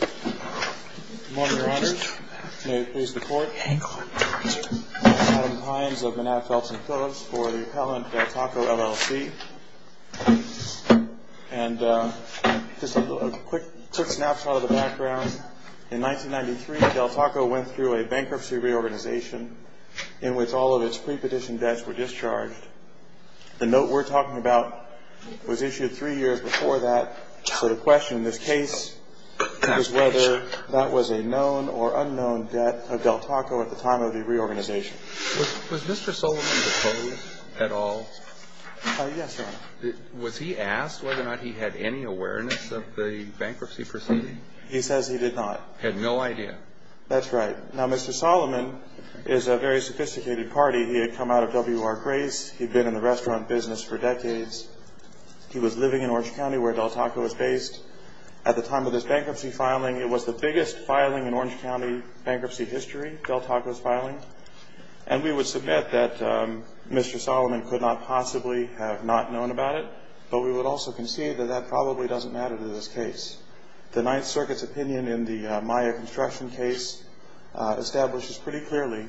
Good morning, your honors. May it please the court. I'm Adam Pines of Manatee, Phelps & Phillips for the appellant Del Taco LLC. And just a quick snapshot of the background. In 1993, Del Taco went through a bankruptcy reorganization in which all of its prepetition debts were discharged. The note we're talking about was issued three years before that. So the question in this case is whether that was a known or unknown debt of Del Taco at the time of the reorganization. Was Mr. Soliman deposed at all? Yes, your honor. Was he asked whether or not he had any awareness of the bankruptcy proceeding? He says he did not. Had no idea. That's right. Now, Mr. Soliman is a very sophisticated party. He had come out of W.R. Grace. He'd been in the restaurant business for decades. He was living in Orange County where Del Taco was based. At the time of this bankruptcy filing, it was the biggest filing in Orange County bankruptcy history, Del Taco's filing. And we would submit that Mr. Soliman could not possibly have not known about it. But we would also concede that that probably doesn't matter to this case. The Ninth Circuit's opinion in the Maya construction case establishes pretty clearly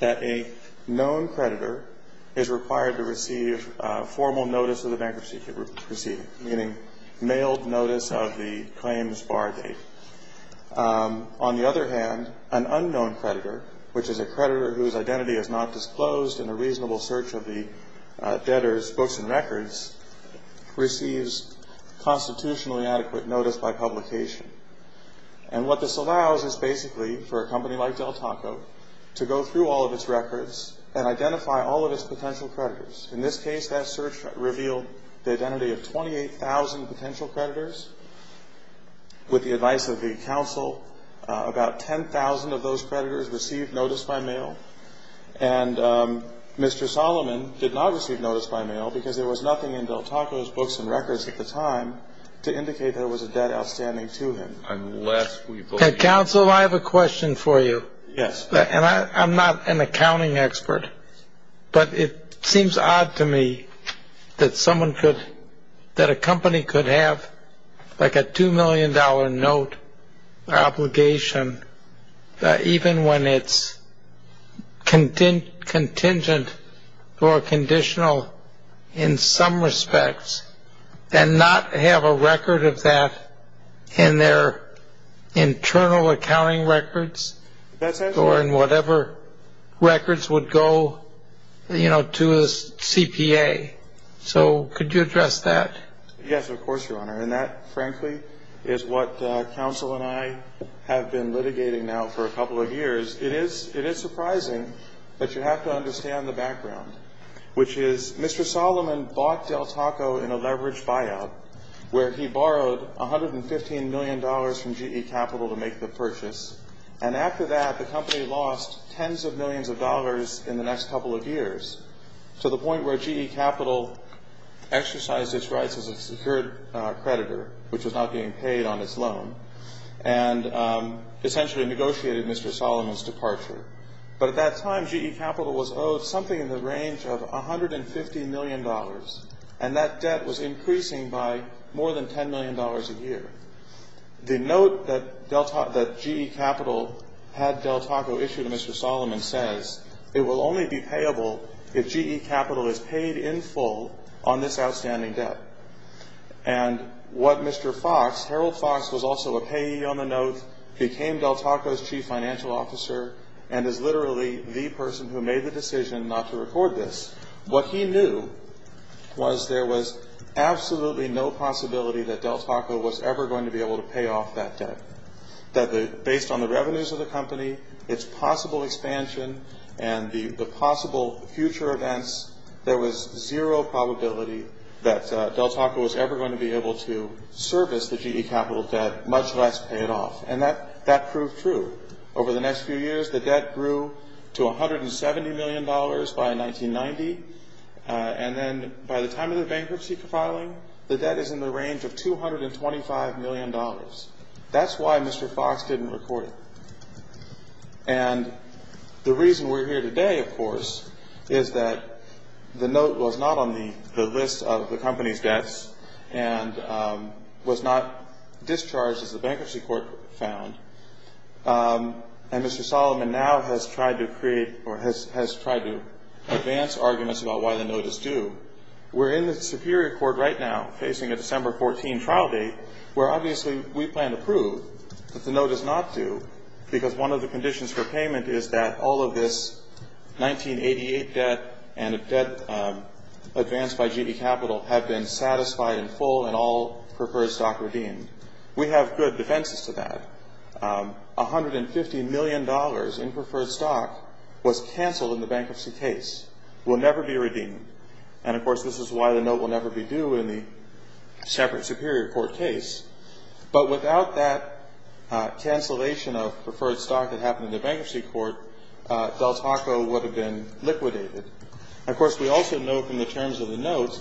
that a known creditor is required to receive formal notice of the bankruptcy proceeding, meaning mailed notice of the claims bar date. On the other hand, an unknown creditor, which is a creditor whose identity is not disclosed in a reasonable search of the debtor's books and records, receives constitutionally adequate notice by publication. And what this allows is basically for a company like Del Taco to go through all of its records and identify all of its potential creditors. In this case, that search revealed the identity of 28,000 potential creditors. With the advice of the counsel, about 10,000 of those creditors received notice by mail. And Mr. Soliman did not receive notice by mail because there was nothing in Del Taco's books and records at the time to indicate there was a debt outstanding to him. Counsel, I have a question for you. Yes. I'm not an accounting expert, but it seems odd to me that someone could, that a company could have like a $2 million note obligation, even when it's contingent or conditional in some respects, and not have a record of that in their internal accounting records or in whatever records would go, you know, to a CPA. So could you address that? Yes, of course, Your Honor. And that, frankly, is what counsel and I have been litigating now for a couple of years. It is surprising, but you have to understand the background, which is Mr. Soliman bought Del Taco in a leveraged buyout, where he borrowed $115 million from GE Capital to make the purchase. And after that, the company lost tens of millions of dollars in the next couple of years, to the point where GE Capital exercised its rights as a secured creditor, which was not being paid on its loan, and essentially negotiated Mr. Soliman's departure. But at that time, GE Capital was owed something in the range of $150 million, and that debt was increasing by more than $10 million a year. The note that GE Capital had Del Taco issue to Mr. Soliman says, it will only be payable if GE Capital is paid in full on this outstanding debt. And what Mr. Fox, Harold Fox was also a payee on the note, became Del Taco's chief financial officer, and is literally the person who made the decision not to record this. What he knew was there was absolutely no possibility that Del Taco was ever going to be able to pay off that debt. That based on the revenues of the company, its possible expansion, and the possible future events, there was zero probability that Del Taco was ever going to be able to service the GE Capital debt, much less pay it off. And that proved true. Over the next few years, the debt grew to $170 million by 1990, and then by the time of the bankruptcy filing, the debt is in the range of $225 million. That's why Mr. Fox didn't record it. And the reason we're here today, of course, is that the note was not on the list of the company's debts and was not discharged as the bankruptcy court found. And Mr. Soliman now has tried to create or has tried to advance arguments about why the note is due. We're in the Superior Court right now, facing a December 14 trial date, where obviously we plan to prove that the note is not due, because one of the conditions for payment is that all of this 1988 debt and a debt advanced by GE Capital have been satisfied and full and all preferred stock redeemed. We have good defenses to that. $150 million in preferred stock was canceled in the bankruptcy case, will never be redeemed. And, of course, this is why the note will never be due in the separate Superior Court case. But without that cancellation of preferred stock that happened in the bankruptcy court, Del Taco would have been liquidated. And, of course, we also know from the terms of the note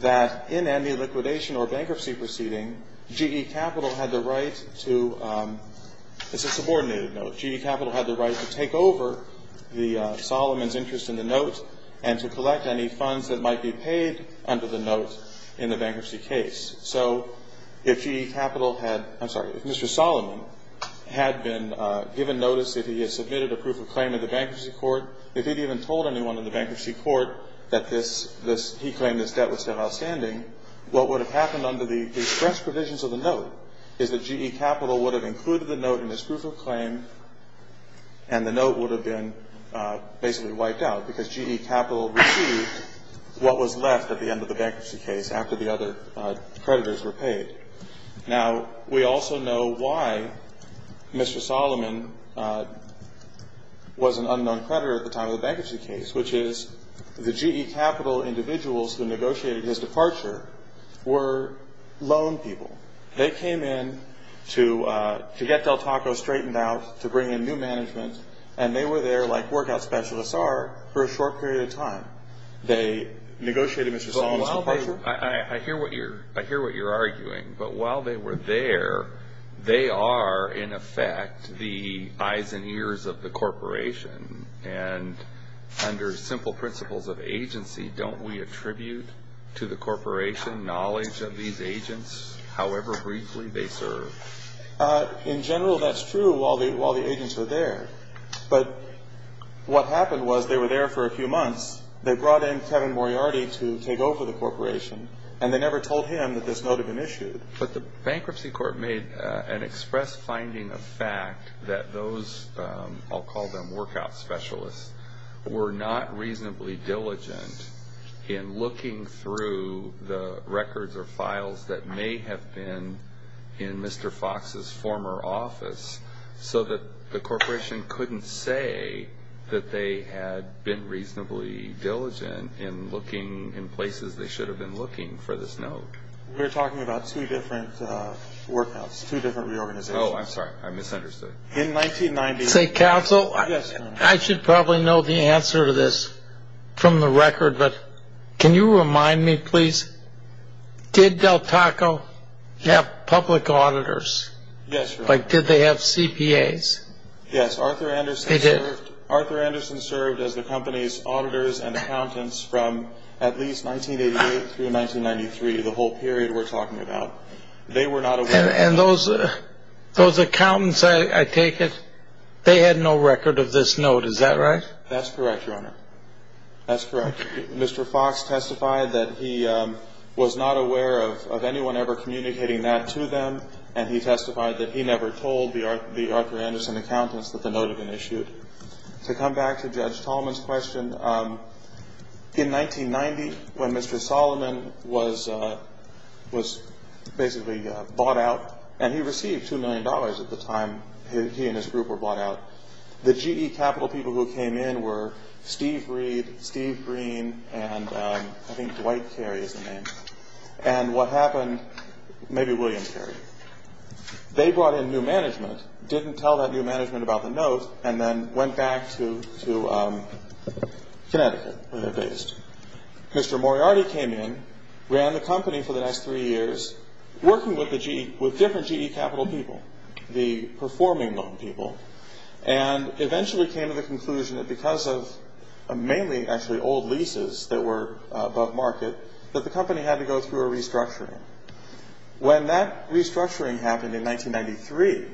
that in any liquidation or bankruptcy proceeding, GE Capital had the right to – it's a subordinated note. But GE Capital had the right to take over the – Soliman's interest in the note and to collect any funds that might be paid under the note in the bankruptcy case. So if GE Capital had – I'm sorry. If Mr. Soliman had been given notice that he had submitted a proof of claim in the bankruptcy court, if he'd even told anyone in the bankruptcy court that this – he claimed this debt was still outstanding, is that GE Capital would have included the note in his proof of claim and the note would have been basically wiped out, because GE Capital received what was left at the end of the bankruptcy case after the other creditors were paid. Now, we also know why Mr. Soliman was an unknown creditor at the time of the bankruptcy case, which is the GE Capital individuals who negotiated his departure were loan people. They came in to get Del Taco straightened out, to bring in new management, and they were there like workout specialists are for a short period of time. They negotiated Mr. Soliman's departure. I hear what you're – I hear what you're arguing. But while they were there, they are, in effect, the eyes and ears of the corporation. And under simple principles of agency, don't we attribute to the corporation knowledge of these agents however briefly they serve? In general, that's true while the agents were there. But what happened was they were there for a few months. They brought in Kevin Moriarty to take over the corporation, and they never told him that this note had been issued. But the bankruptcy court made an express finding of fact that those, I'll call them workout specialists, were not reasonably diligent in looking through the records or files that may have been in Mr. Fox's former office so that the corporation couldn't say that they had been reasonably diligent in looking in places they should have been looking for this note. We're talking about two different workouts, two different reorganizations. Oh, I'm sorry. I misunderstood. Say, Counsel, I should probably know the answer to this from the record, but can you remind me, please? Did Del Taco have public auditors? Yes, sir. Like, did they have CPAs? Yes, Arthur Anderson served as the company's auditors and accountants from at least 1988 through 1993, the whole period we're talking about. And those accountants, I take it, they had no record of this note. Is that right? That's correct, Your Honor. That's correct. Mr. Fox testified that he was not aware of anyone ever communicating that to them, and he testified that he never told the Arthur Anderson accountants that the note had been issued. To come back to Judge Tallman's question, in 1990, when Mr. Solomon was basically bought out, and he received $2 million at the time he and his group were bought out, the GE capital people who came in were Steve Reed, Steve Green, and I think Dwight Carey is the name. And what happened, maybe William Carey, they brought in new management, didn't tell that new management about the note, and then went back to Connecticut where they're based. Mr. Moriarty came in, ran the company for the next three years, working with different GE capital people, the performing loan people, and eventually came to the conclusion that because of mainly, actually, old leases that were above market, that the company had to go through a restructuring. When that restructuring happened in 1993,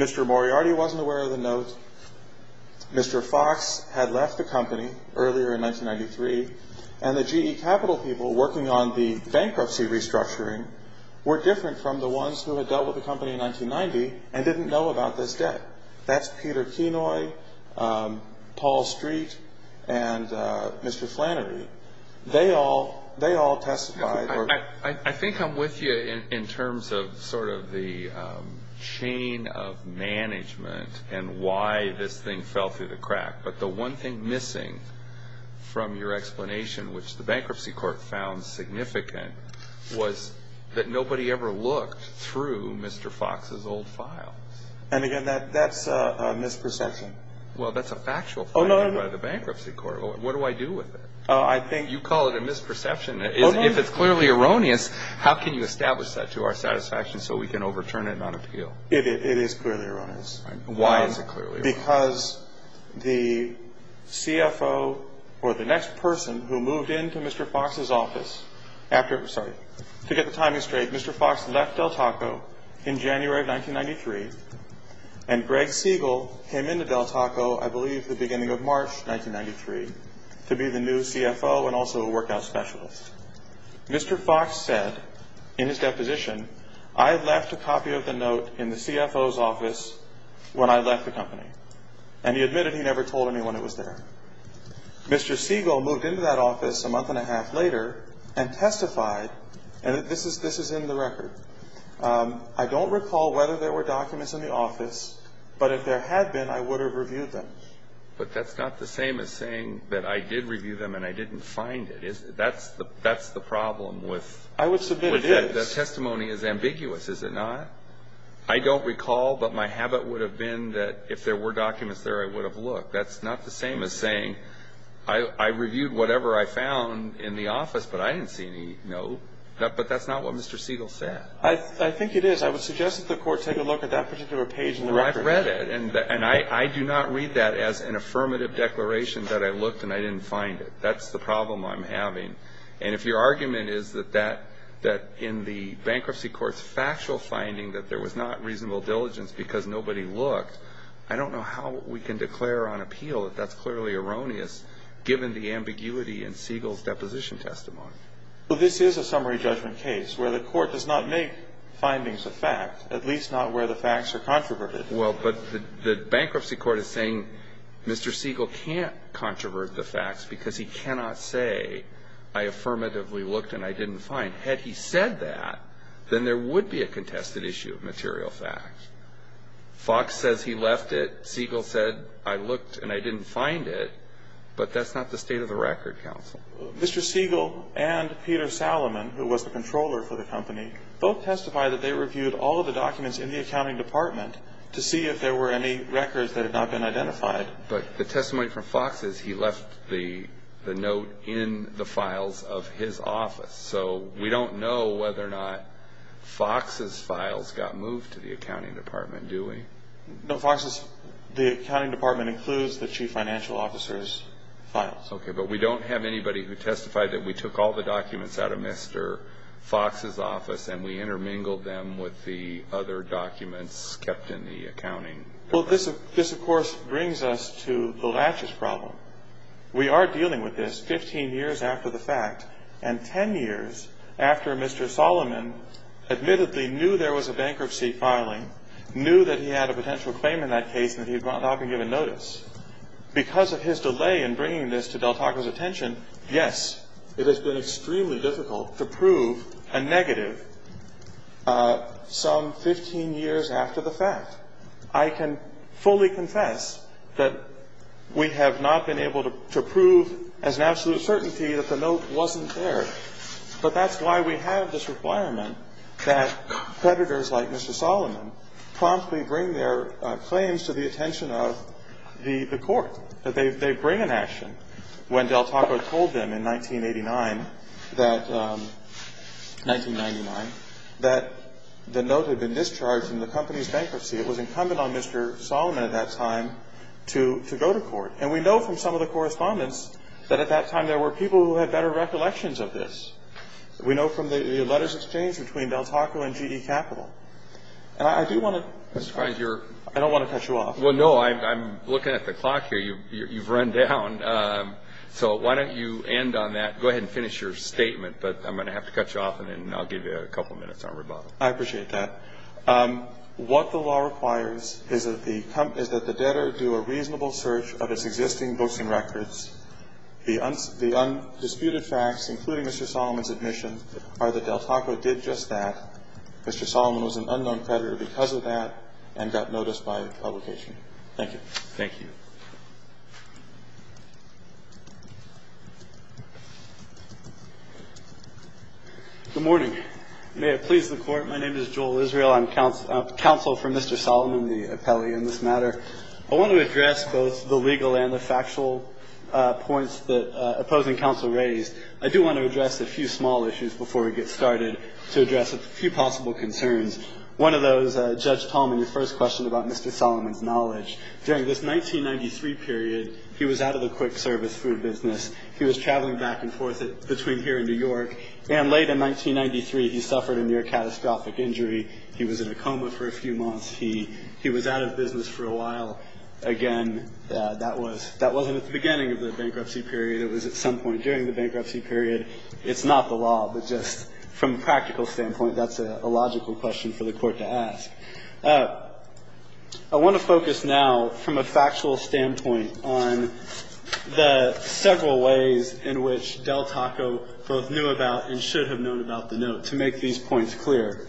Mr. Moriarty wasn't aware of the note. Mr. Fox had left the company earlier in 1993, and the GE capital people working on the bankruptcy restructuring were different from the ones who had dealt with the company in 1990 and didn't know about this debt. That's Peter Kenoy, Paul Street, and Mr. Flannery. They all testified. I think I'm with you in terms of sort of the chain of management and why this thing fell through the crack. But the one thing missing from your explanation, which the bankruptcy court found significant, was that nobody ever looked through Mr. Fox's old file. And again, that's a misperception. Well, that's a factual finding by the bankruptcy court. What do I do with it? You call it a misperception. If it's clearly erroneous, how can you establish that to our satisfaction so we can overturn it on appeal? It is clearly erroneous. Why is it clearly erroneous? Because the CFO or the next person who moved into Mr. Fox's office, to get the timing straight, Mr. Fox left Del Taco in January of 1993, and Greg Siegel came into Del Taco, I believe the beginning of March 1993, to be the new CFO and also a workout specialist. Mr. Fox said in his deposition, I left a copy of the note in the CFO's office when I left the company. And he admitted he never told anyone it was there. Mr. Siegel moved into that office a month and a half later and testified, and this is in the record, I don't recall whether there were documents in the office, but if there had been, I would have reviewed them. But that's not the same as saying that I did review them and I didn't find it. That's the problem with that. I would submit it is. The testimony is ambiguous, is it not? I don't recall, but my habit would have been that if there were documents there, I would have looked. That's not the same as saying I reviewed whatever I found in the office, but I didn't see any note. But that's not what Mr. Siegel said. I think it is. I would suggest that the court take a look at that particular page in the record. I've read it, and I do not read that as an affirmative declaration that I looked and I didn't find it. That's the problem I'm having. And if your argument is that in the bankruptcy court's factual finding that there was not reasonable diligence because nobody looked, I don't know how we can declare on appeal that that's clearly erroneous, given the ambiguity in Siegel's deposition testimony. Well, this is a summary judgment case where the court does not make findings of fact, at least not where the facts are controverted. Well, but the bankruptcy court is saying Mr. Siegel can't controvert the facts because he cannot say I affirmatively looked and I didn't find. Had he said that, then there would be a contested issue of material fact. Fox says he left it. Siegel said I looked and I didn't find it. But that's not the state of the record, counsel. Mr. Siegel and Peter Salomon, who was the controller for the company, both testified that they reviewed all of the documents in the accounting department to see if there were any records that had not been identified. But the testimony from Fox is he left the note in the files of his office. So we don't know whether or not Fox's files got moved to the accounting department, do we? No, Fox's, the accounting department includes the chief financial officer's files. Okay, but we don't have anybody who testified that we took all the documents out of Mr. Fox's office and we intermingled them with the other documents kept in the accounting department. Well, this, of course, brings us to the latches problem. We are dealing with this 15 years after the fact and 10 years after Mr. Salomon admittedly knew there was a bankruptcy filing, knew that he had a potential claim in that case and that he had not been given notice. Because of his delay in bringing this to Del Taco's attention, yes, it has been extremely difficult to prove a negative some 15 years after the fact. I can fully confess that we have not been able to prove as an absolute certainty that the note wasn't there. But that's why we have this requirement that creditors like Mr. Salomon and Mr. if they have the intention of the court, that they bring an action when Del Taco told them in 1989 that, 1999, that the note had been discharged from the company's bankruptcy. It was incumbent on Mr. Salomon at that time to go to court. And we know from some of the correspondence that at that time there were people who had better recollections of this. We know from the letters exchanged between Del Taco and GE Capital. And I do want to, I don't want to cut you off. Well, no. I'm looking at the clock here. You've run down. So why don't you end on that. Go ahead and finish your statement, but I'm going to have to cut you off and then I'll give you a couple of minutes on rebuttal. I appreciate that. What the law requires is that the debtor do a reasonable search of its existing books and records. The undisputed facts, including Mr. Salomon's admission are that Del Taco did just that. Mr. Salomon was an unknown creditor because of that and got noticed by the publication. Thank you. Thank you. Good morning. May it please the Court. My name is Joel Israel. I'm counsel for Mr. Salomon, the appellee in this matter. I want to address both the legal and the factual points that opposing counsel raised. I do want to address a few small issues before we get started to address a few possible concerns. One of those, Judge Tallman, your first question about Mr. Salomon's knowledge. During this 1993 period, he was out of the quick service food business. He was traveling back and forth between here and New York. And late in 1993, he suffered a near catastrophic injury. He was in a coma for a few months. He was out of business for a while. Again, that wasn't at the beginning of the bankruptcy period. It was at some point during the bankruptcy period. It's not the law, but just from a practical standpoint, that's a logical question for the Court to ask. I want to focus now, from a factual standpoint, on the several ways in which Del Taco both knew about and should have known about the note to make these points clear.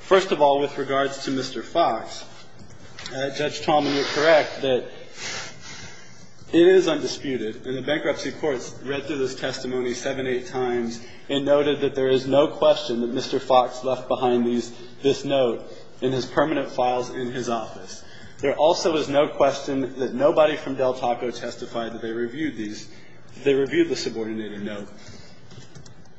First of all, with regards to Mr. Fox, Judge Tallman, you're correct that it is undisputed, and the bankruptcy courts read through this testimony seven, eight times, and noted that there is no question that Mr. Fox left behind this note in his permanent files in his office. There also is no question that nobody from Del Taco testified that they reviewed the subordinated note.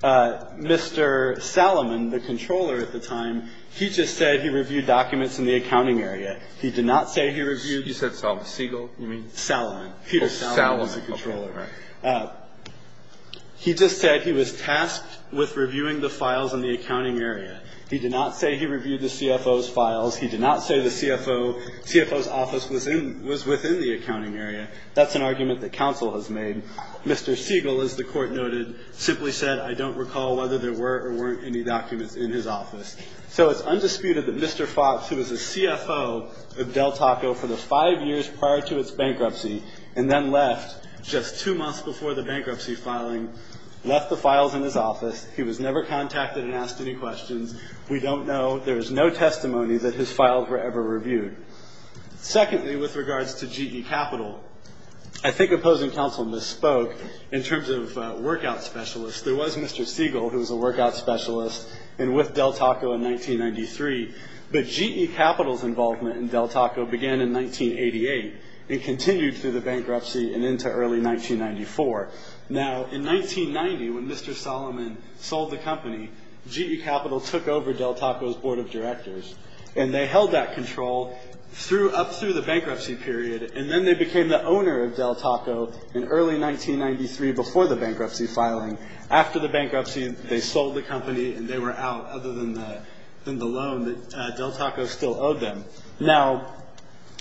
Mr. Salomon, the controller at the time, he just said he reviewed documents in the accounting area. He did not say he reviewed. I think you said Salomon. Siegel? You mean? Salomon. Peter Salomon was the controller. Salomon, okay. He just said he was tasked with reviewing the files in the accounting area. He did not say he reviewed the CFO's files. He did not say the CFO's office was in the accounting area. That's an argument that counsel has made. Mr. Siegel, as the Court noted, simply said, I don't recall whether there were or weren't any documents in his office. So it's undisputed that Mr. Fox, who was the CFO of Del Taco for the five years prior to its bankruptcy and then left just two months before the bankruptcy filing, left the files in his office. He was never contacted and asked any questions. We don't know. There is no testimony that his files were ever reviewed. Secondly, with regards to GE Capital, I think opposing counsel misspoke in terms of workout specialists. There was Mr. Siegel, who was a workout specialist, and with Del Taco in 1993. But GE Capital's involvement in Del Taco began in 1988 and continued through the bankruptcy and into early 1994. Now, in 1990, when Mr. Solomon sold the company, GE Capital took over Del Taco's board of directors, and they held that control up through the bankruptcy period, and then they became the owner of Del Taco in early 1993, before the bankruptcy filing. After the bankruptcy, they sold the company, and they were out other than the loan that Del Taco still owed them. Now,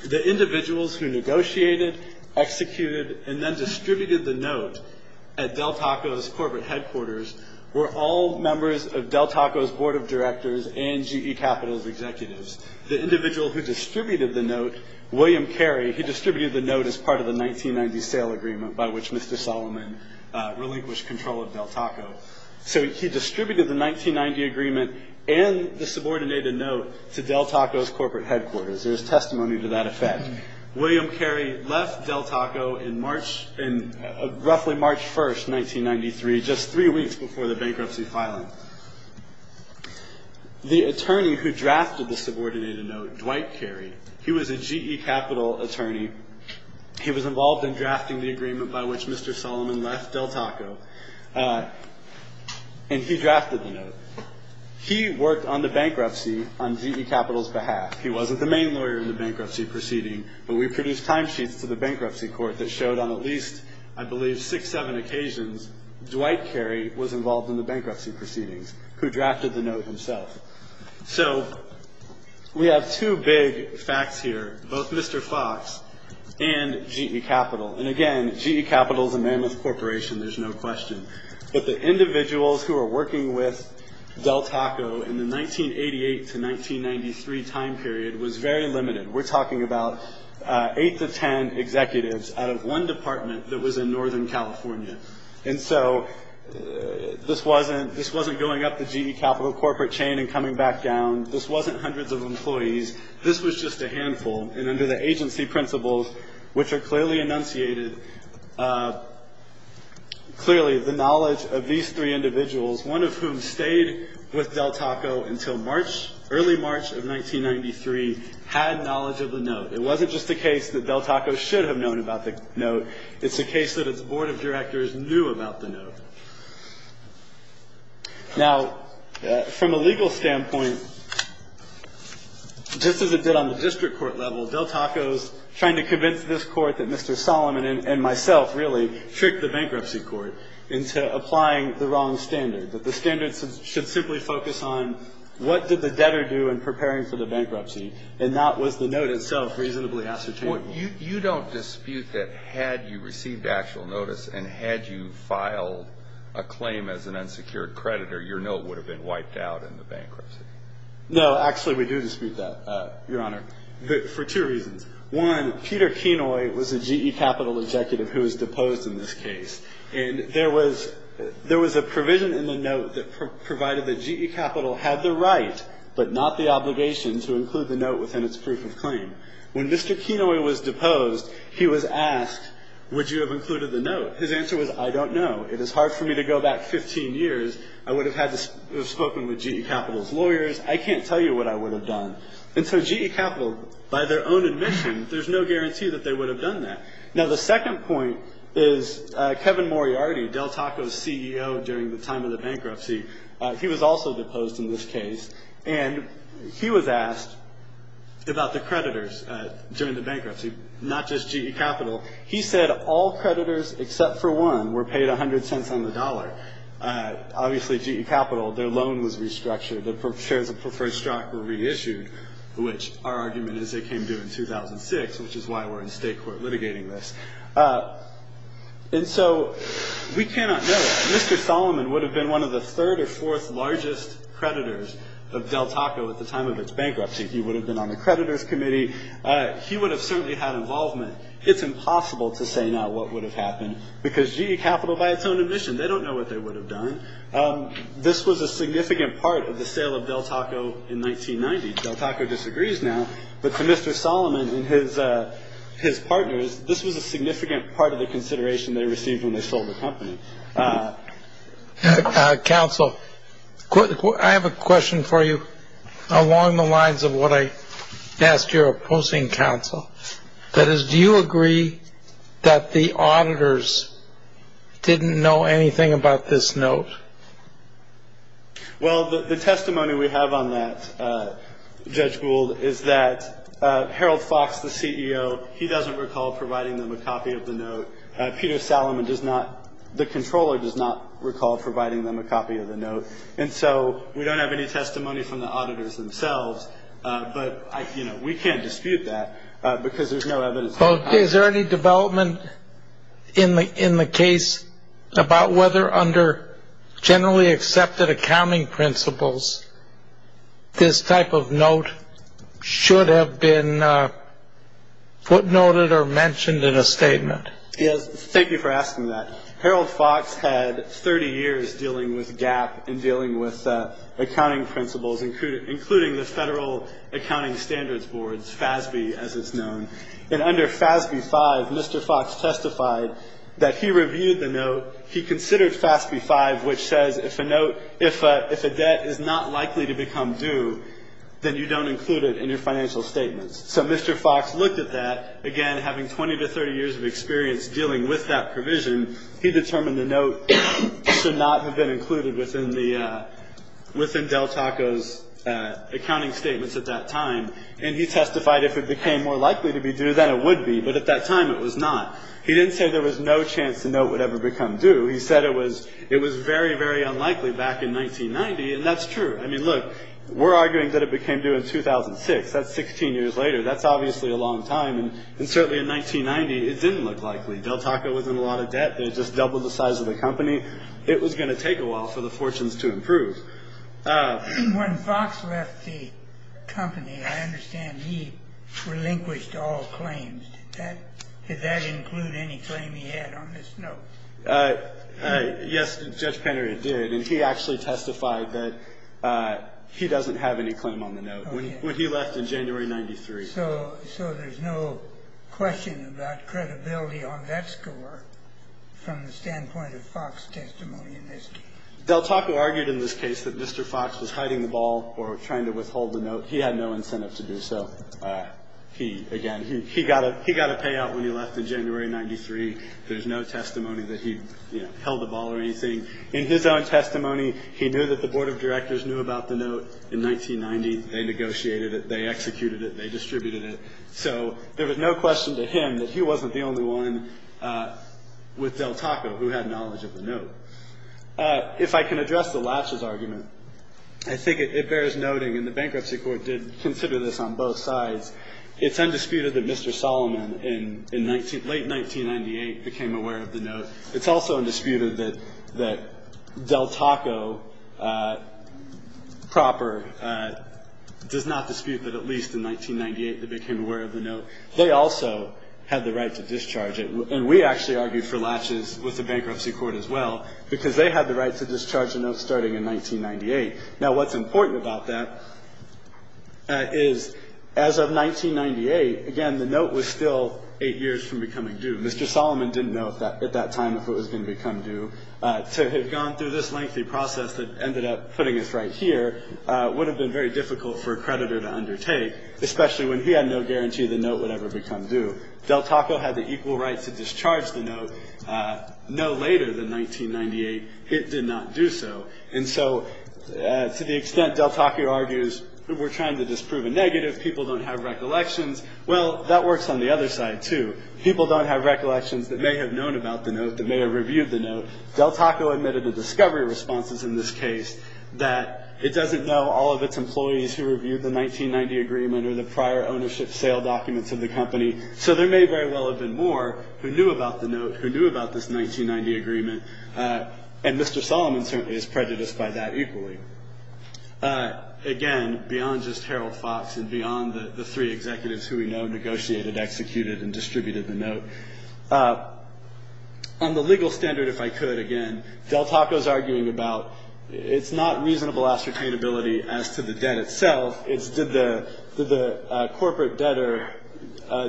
the individuals who negotiated, executed, and then distributed the note at Del Taco's corporate headquarters were all members of Del Taco's board of directors and GE Capital's executives. The individual who distributed the note, William Carey, he distributed the note as part of the 1990 sale agreement by which Mr. Solomon relinquished control of Del Taco. So he distributed the 1990 agreement and the subordinated note to Del Taco's corporate headquarters. There's testimony to that effect. William Carey left Del Taco in roughly March 1, 1993, just three weeks before the bankruptcy filing. The attorney who drafted the subordinated note, Dwight Carey, he was a GE Capital attorney. He was involved in drafting the agreement by which Mr. Solomon left Del Taco, and he drafted the note. He worked on the bankruptcy on GE Capital's behalf. He wasn't the main lawyer in the bankruptcy proceeding, but we produced timesheets to the bankruptcy court that showed on at least, I believe, six, seven occasions, Dwight Carey was involved in the bankruptcy proceedings, who drafted the note himself. So we have two big facts here. Both Mr. Fox and GE Capital. And again, GE Capital is a mammoth corporation. There's no question. But the individuals who were working with Del Taco in the 1988 to 1993 time period was very limited. We're talking about eight to ten executives out of one department that was in Northern California. And so this wasn't going up the GE Capital corporate chain and coming back down. This wasn't hundreds of employees. This was just a handful. And under the agency principles, which are clearly enunciated, clearly the knowledge of these three individuals, one of whom stayed with Del Taco until early March of 1993, had knowledge of the note. It wasn't just a case that Del Taco should have known about the note. Now, from a legal standpoint, just as it did on the district court level, Del Taco's trying to convince this Court that Mr. Solomon and myself really tricked the bankruptcy court into applying the wrong standard, that the standard should simply focus on what did the debtor do in preparing for the bankruptcy, and not was the note itself reasonably ascertainable. Well, you don't dispute that had you received actual notice and had you filed a claim as an unsecured creditor, your note would have been wiped out in the bankruptcy? No, actually we do dispute that, Your Honor, for two reasons. One, Peter Kenoy was a GE Capital executive who was deposed in this case. And there was a provision in the note that provided that GE Capital had the right, but not the obligation, to include the note within its proof of claim. When Mr. Kenoy was deposed, he was asked, would you have included the note? His answer was, I don't know. It is hard for me to go back 15 years. I would have spoken with GE Capital's lawyers. I can't tell you what I would have done. And so GE Capital, by their own admission, there's no guarantee that they would have done that. Now, the second point is Kevin Moriarty, Del Taco's CEO during the time of the bankruptcy, he was also deposed in this case. And he was asked about the creditors during the bankruptcy, not just GE Capital. He said all creditors except for one were paid 100 cents on the dollar. Obviously, GE Capital, their loan was restructured. Their shares of preferred stock were reissued, which our argument is they came due in 2006, which is why we're in state court litigating this. And so we cannot know. Mr. Solomon would have been one of the third or fourth largest creditors of Del Taco at the time of its bankruptcy. He would have been on the creditors committee. He would have certainly had involvement. It's impossible to say now what would have happened because GE Capital, by its own admission, they don't know what they would have done. This was a significant part of the sale of Del Taco in 1990. Del Taco disagrees now. But for Mr. Solomon and his partners, this was a significant part of the consideration they received when they sold the company. Counsel, I have a question for you along the lines of what I asked your opposing counsel. That is, do you agree that the auditors didn't know anything about this note? Well, the testimony we have on that, Judge Gould, is that Harold Fox, the CEO, he doesn't recall providing them a copy of the note. Peter Solomon does not. The controller does not recall providing them a copy of the note. And so we don't have any testimony from the auditors themselves. But, you know, we can't dispute that because there's no evidence. Is there any development in the case about whether under generally accepted accounting principles, this type of note should have been footnoted or mentioned in a statement? Yes. Thank you for asking that. Harold Fox had 30 years dealing with GAAP and dealing with accounting principles, including the Federal Accounting Standards Board, FASB, as it's known. And under FASB 5, Mr. Fox testified that he reviewed the note. He considered FASB 5, which says if a debt is not likely to become due, then you don't include it in your financial statements. So Mr. Fox looked at that. Again, having 20 to 30 years of experience dealing with that provision, he determined the note should not have been included within Del Taco's accounting statements at that time. And he testified if it became more likely to be due, then it would be. But at that time, it was not. He didn't say there was no chance the note would ever become due. He said it was very, very unlikely back in 1990. And that's true. I mean, look, we're arguing that it became due in 2006. That's 16 years later. That's obviously a long time. And certainly in 1990, it didn't look likely. Del Taco was in a lot of debt. They just doubled the size of the company. It was going to take a while for the fortunes to improve. When Fox left the company, I understand he relinquished all claims. Did that include any claim he had on this note? Yes, Judge Penner, it did. And he actually testified that he doesn't have any claim on the note when he left in January of 1993. So there's no question about credibility on that score from the standpoint of Fox's testimony in this case. Del Taco argued in this case that Mr. Fox was hiding the ball or trying to withhold the note. He had no incentive to do so. Again, he got a payout when he left in January of 1993. There's no testimony that he held the ball or anything. In his own testimony, he knew that the board of directors knew about the note in 1990. They negotiated it. They executed it. They distributed it. So there was no question to him that he wasn't the only one with Del Taco who had knowledge of the note. If I can address the Lash's argument, I think it bears noting, and the bankruptcy court did consider this on both sides, it's undisputed that Mr. Solomon in late 1998 became aware of the note. It's also undisputed that Del Taco proper does not dispute that at least in 1998 they became aware of the note. They also had the right to discharge it. And we actually argued for Lash's with the bankruptcy court as well because they had the right to discharge the note starting in 1998. Now, what's important about that is as of 1998, again, the note was still eight years from becoming due. Mr. Solomon didn't know at that time if it was going to become due. To have gone through this lengthy process that ended up putting us right here would have been very difficult for a creditor to undertake, especially when he had no guarantee the note would ever become due. Del Taco had the equal right to discharge the note no later than 1998. It did not do so. And so to the extent Del Taco argues we're trying to disprove a negative, people don't have recollections, well, that works on the other side too. People don't have recollections that may have known about the note, that may have reviewed the note. Del Taco admitted to discovery responses in this case that it doesn't know all of its employees who reviewed the 1990 agreement or the prior ownership sale documents of the company. So there may very well have been more who knew about the note, who knew about this 1990 agreement. And Mr. Solomon certainly is prejudiced by that equally. Again, beyond just Harold Fox and beyond the three executives who we know negotiated, executed, and distributed the note. On the legal standard, if I could again, Del Taco is arguing about it's not reasonable ascertainability as to the debt itself. It's did the corporate debtor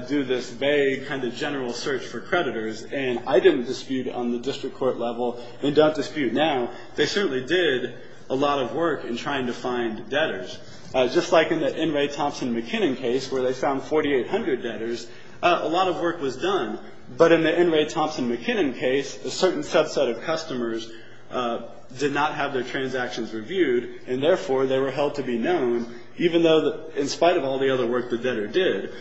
do this vague kind of general search for creditors, and I didn't dispute on the district court level and don't dispute now. They certainly did a lot of work in trying to find debtors. Just like in the N. Ray Thompson McKinnon case where they found 4,800 debtors, a lot of work was done. But in the N. Ray Thompson McKinnon case, a certain subset of customers did not have their transactions reviewed, and therefore they were held to be known, even though in spite of all the other work the debtor did.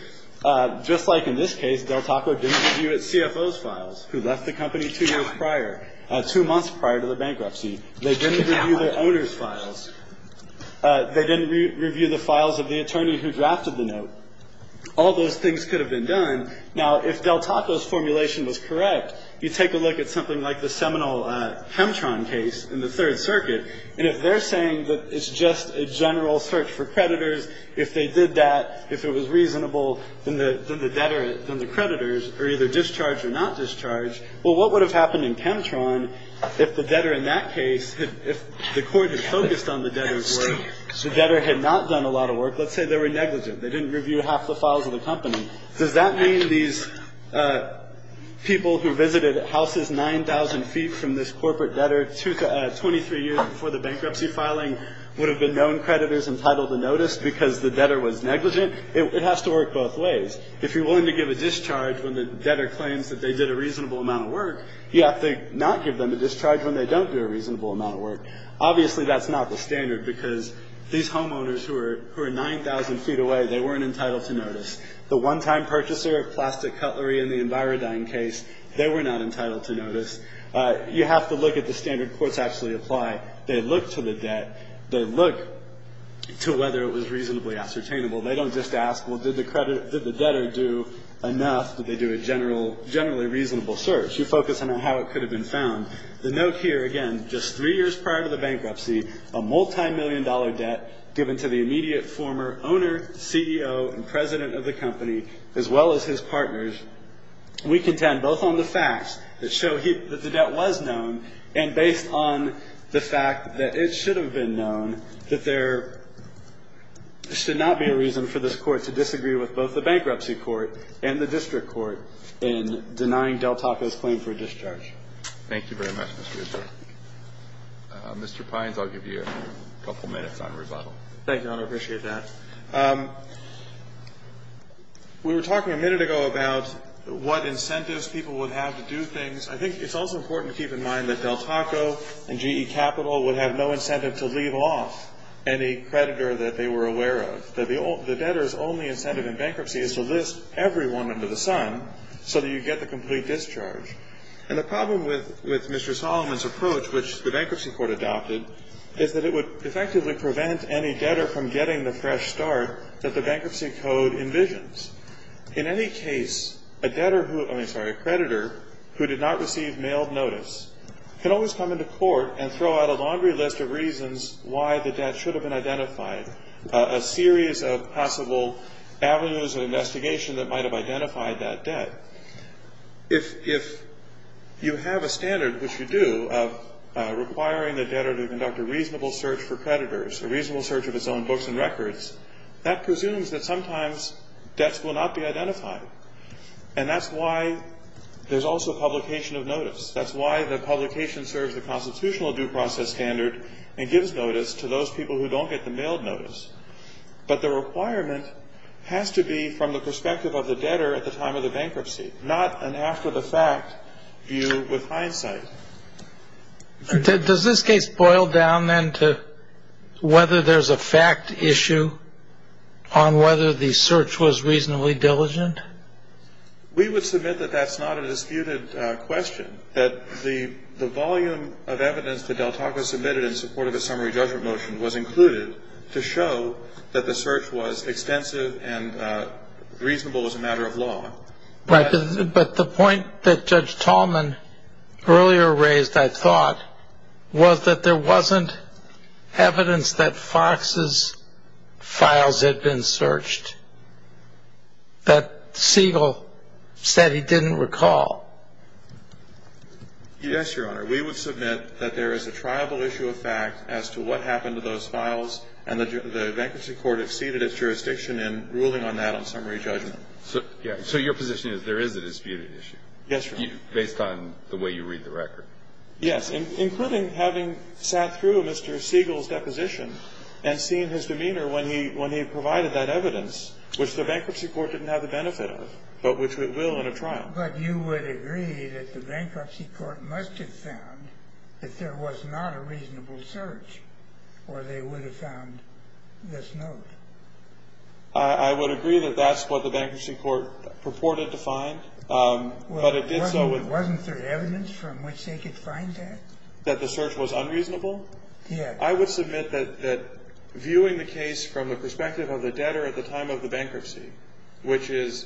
Just like in this case, Del Taco didn't review its CFO's files who left the company two years prior, two months prior to the bankruptcy. They didn't review the owner's files. They didn't review the files of the attorney who drafted the note. All those things could have been done. Now, if Del Taco's formulation was correct, you take a look at something like the seminal Hemtron case in the Third Circuit, and if they're saying that it's just a general search for creditors, if they did that, if it was reasonable, then the creditors are either discharged or not discharged. Well, what would have happened in Hemtron if the debtor in that case, if the court had focused on the debtor's work, the debtor had not done a lot of work? Let's say they were negligent. They didn't review half the files of the company. Does that mean these people who visited houses 9,000 feet from this corporate debtor 23 years before the bankruptcy filing would have been known creditors entitled to notice because the debtor was negligent? It has to work both ways. If you're willing to give a discharge when the debtor claims that they did a reasonable amount of work, you have to not give them a discharge when they don't do a reasonable amount of work. Obviously, that's not the standard because these homeowners who are 9,000 feet away, they weren't entitled to notice. The one-time purchaser of plastic cutlery in the Envirodyne case, they were not entitled to notice. You have to look at the standard courts actually apply. They look to the debt. They look to whether it was reasonably ascertainable. They don't just ask, well, did the debtor do enough? Did they do a generally reasonable search? You focus on how it could have been found. The note here, again, just three years prior to the bankruptcy, a multimillion-dollar debt given to the immediate former owner, CEO, and president of the company, as well as his partners. We contend both on the facts that show that the debt was known and based on the fact that it should have been known, that there should not be a reason for this Court to disagree with both the Bankruptcy Court and the District Court in denying Del Taco's claim for a discharge. Thank you very much, Mr. Goodman. Mr. Pines, I'll give you a couple minutes on rebuttal. Thank you, Your Honor. I appreciate that. We were talking a minute ago about what incentives people would have to do things. I think it's also important to keep in mind that Del Taco and GE Capital would have no incentive to leave off any creditor that they were aware of. The debtor's only incentive in bankruptcy is to list everyone under the sun so that you get the complete discharge. And the problem with Mr. Solomon's approach, which the Bankruptcy Court adopted, is that it would effectively prevent any debtor from getting the fresh start that the Bankruptcy Code envisions. In any case, a creditor who did not receive mailed notice can always come into court and throw out a laundry list of reasons why the debt should have been identified, a series of possible avenues of investigation that might have identified that debt. If you have a standard, which you do, of requiring the debtor to conduct a reasonable search for creditors, a reasonable search of his own books and records, that presumes that sometimes debts will not be identified. And that's why there's also publication of notice. That's why the publication serves the constitutional due process standard and gives notice to those people who don't get the mailed notice. But the requirement has to be from the perspective of the debtor at the time of the bankruptcy, not an after-the-fact view with hindsight. Does this case boil down then to whether there's a fact issue on whether the search was reasonably diligent? We would submit that that's not a disputed question, that the volume of evidence that Del Taco submitted in support of his summary judgment motion was included to show that the search was extensive and reasonable as a matter of law. But the point that Judge Tallman earlier raised, I thought, was that there wasn't evidence that Fox's files had been searched, that Siegel said he didn't recall. Yes, Your Honor. We would submit that there is a triable issue of fact as to what happened to those files, and the bankruptcy court exceeded its jurisdiction in ruling on that on summary judgment. So your position is there is a disputed issue? Yes, Your Honor. Based on the way you read the record? Yes, including having sat through Mr. Siegel's deposition and seen his demeanor when he provided that evidence, which the bankruptcy court didn't have the benefit of, but which it will in a trial. But you would agree that the bankruptcy court must have found that there was not a reasonable search, or they would have found this note. I would agree that that's what the bankruptcy court purported to find, but it did so with... Wasn't there evidence from which they could find that? That the search was unreasonable? Yes. I would submit that viewing the case from the perspective of the debtor at the time of the bankruptcy, which is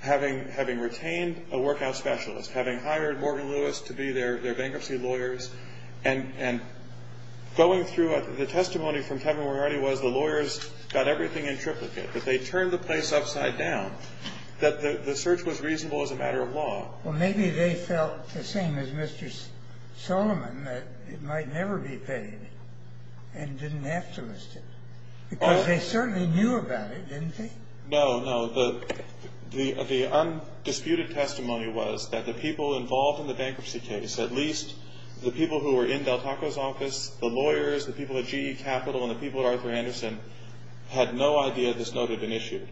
having retained a workout specialist, having hired Morgan Lewis to be their bankruptcy lawyers, and going through the testimony from Kevin Warren was the lawyers got everything in triplicate, but they turned the place upside down, that the search was reasonable as a matter of law. Well, maybe they felt the same as Mr. Solomon, that it might never be paid and didn't have to list it, because they certainly knew about it, didn't they? No, no. The undisputed testimony was that the people involved in the bankruptcy case, at least the people who were in Del Taco's office, the lawyers, the people at GE Capital, and the people at Arthur Anderson, had no idea this note had been issued.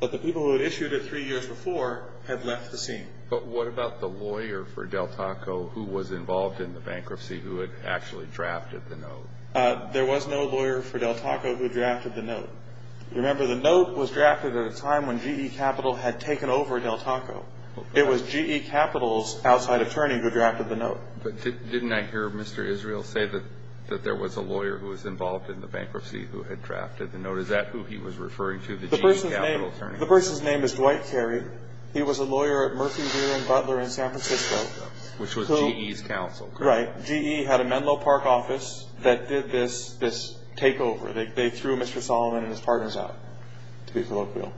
But the people who had issued it three years before had left the scene. But what about the lawyer for Del Taco who was involved in the bankruptcy who had actually drafted the note? There was no lawyer for Del Taco who drafted the note. Remember, the note was drafted at a time when GE Capital had taken over Del Taco. It was GE Capital's outside attorney who drafted the note. But didn't I hear Mr. Israel say that there was a lawyer who was involved in the bankruptcy who had drafted the note? Is that who he was referring to, the GE Capital attorney? The person's name is Dwight Carey. He was a lawyer at Murphy, Deere, and Butler in San Francisco. Which was GE's counsel, correct? Right. GE had a Menlo Park office that did this takeover. They threw Mr. Solomon and his partners out, to be colloquial.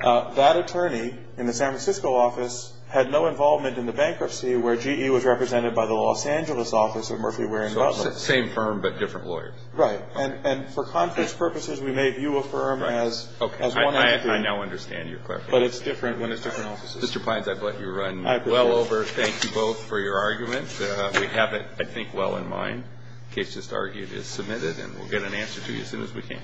That attorney in the San Francisco office had no involvement in the bankruptcy where GE was represented by the Los Angeles office of Murphy, Deere, and Butler. Same firm but different lawyers. Right. And for conference purposes, we may view a firm as one entity. I now understand your clarification. But it's different when it's different offices. Mr. Pines, I've let you run well over. Thank you both for your arguments. We have it, I think, well in mind. The case just argued is submitted, and we'll get an answer to you as soon as we can.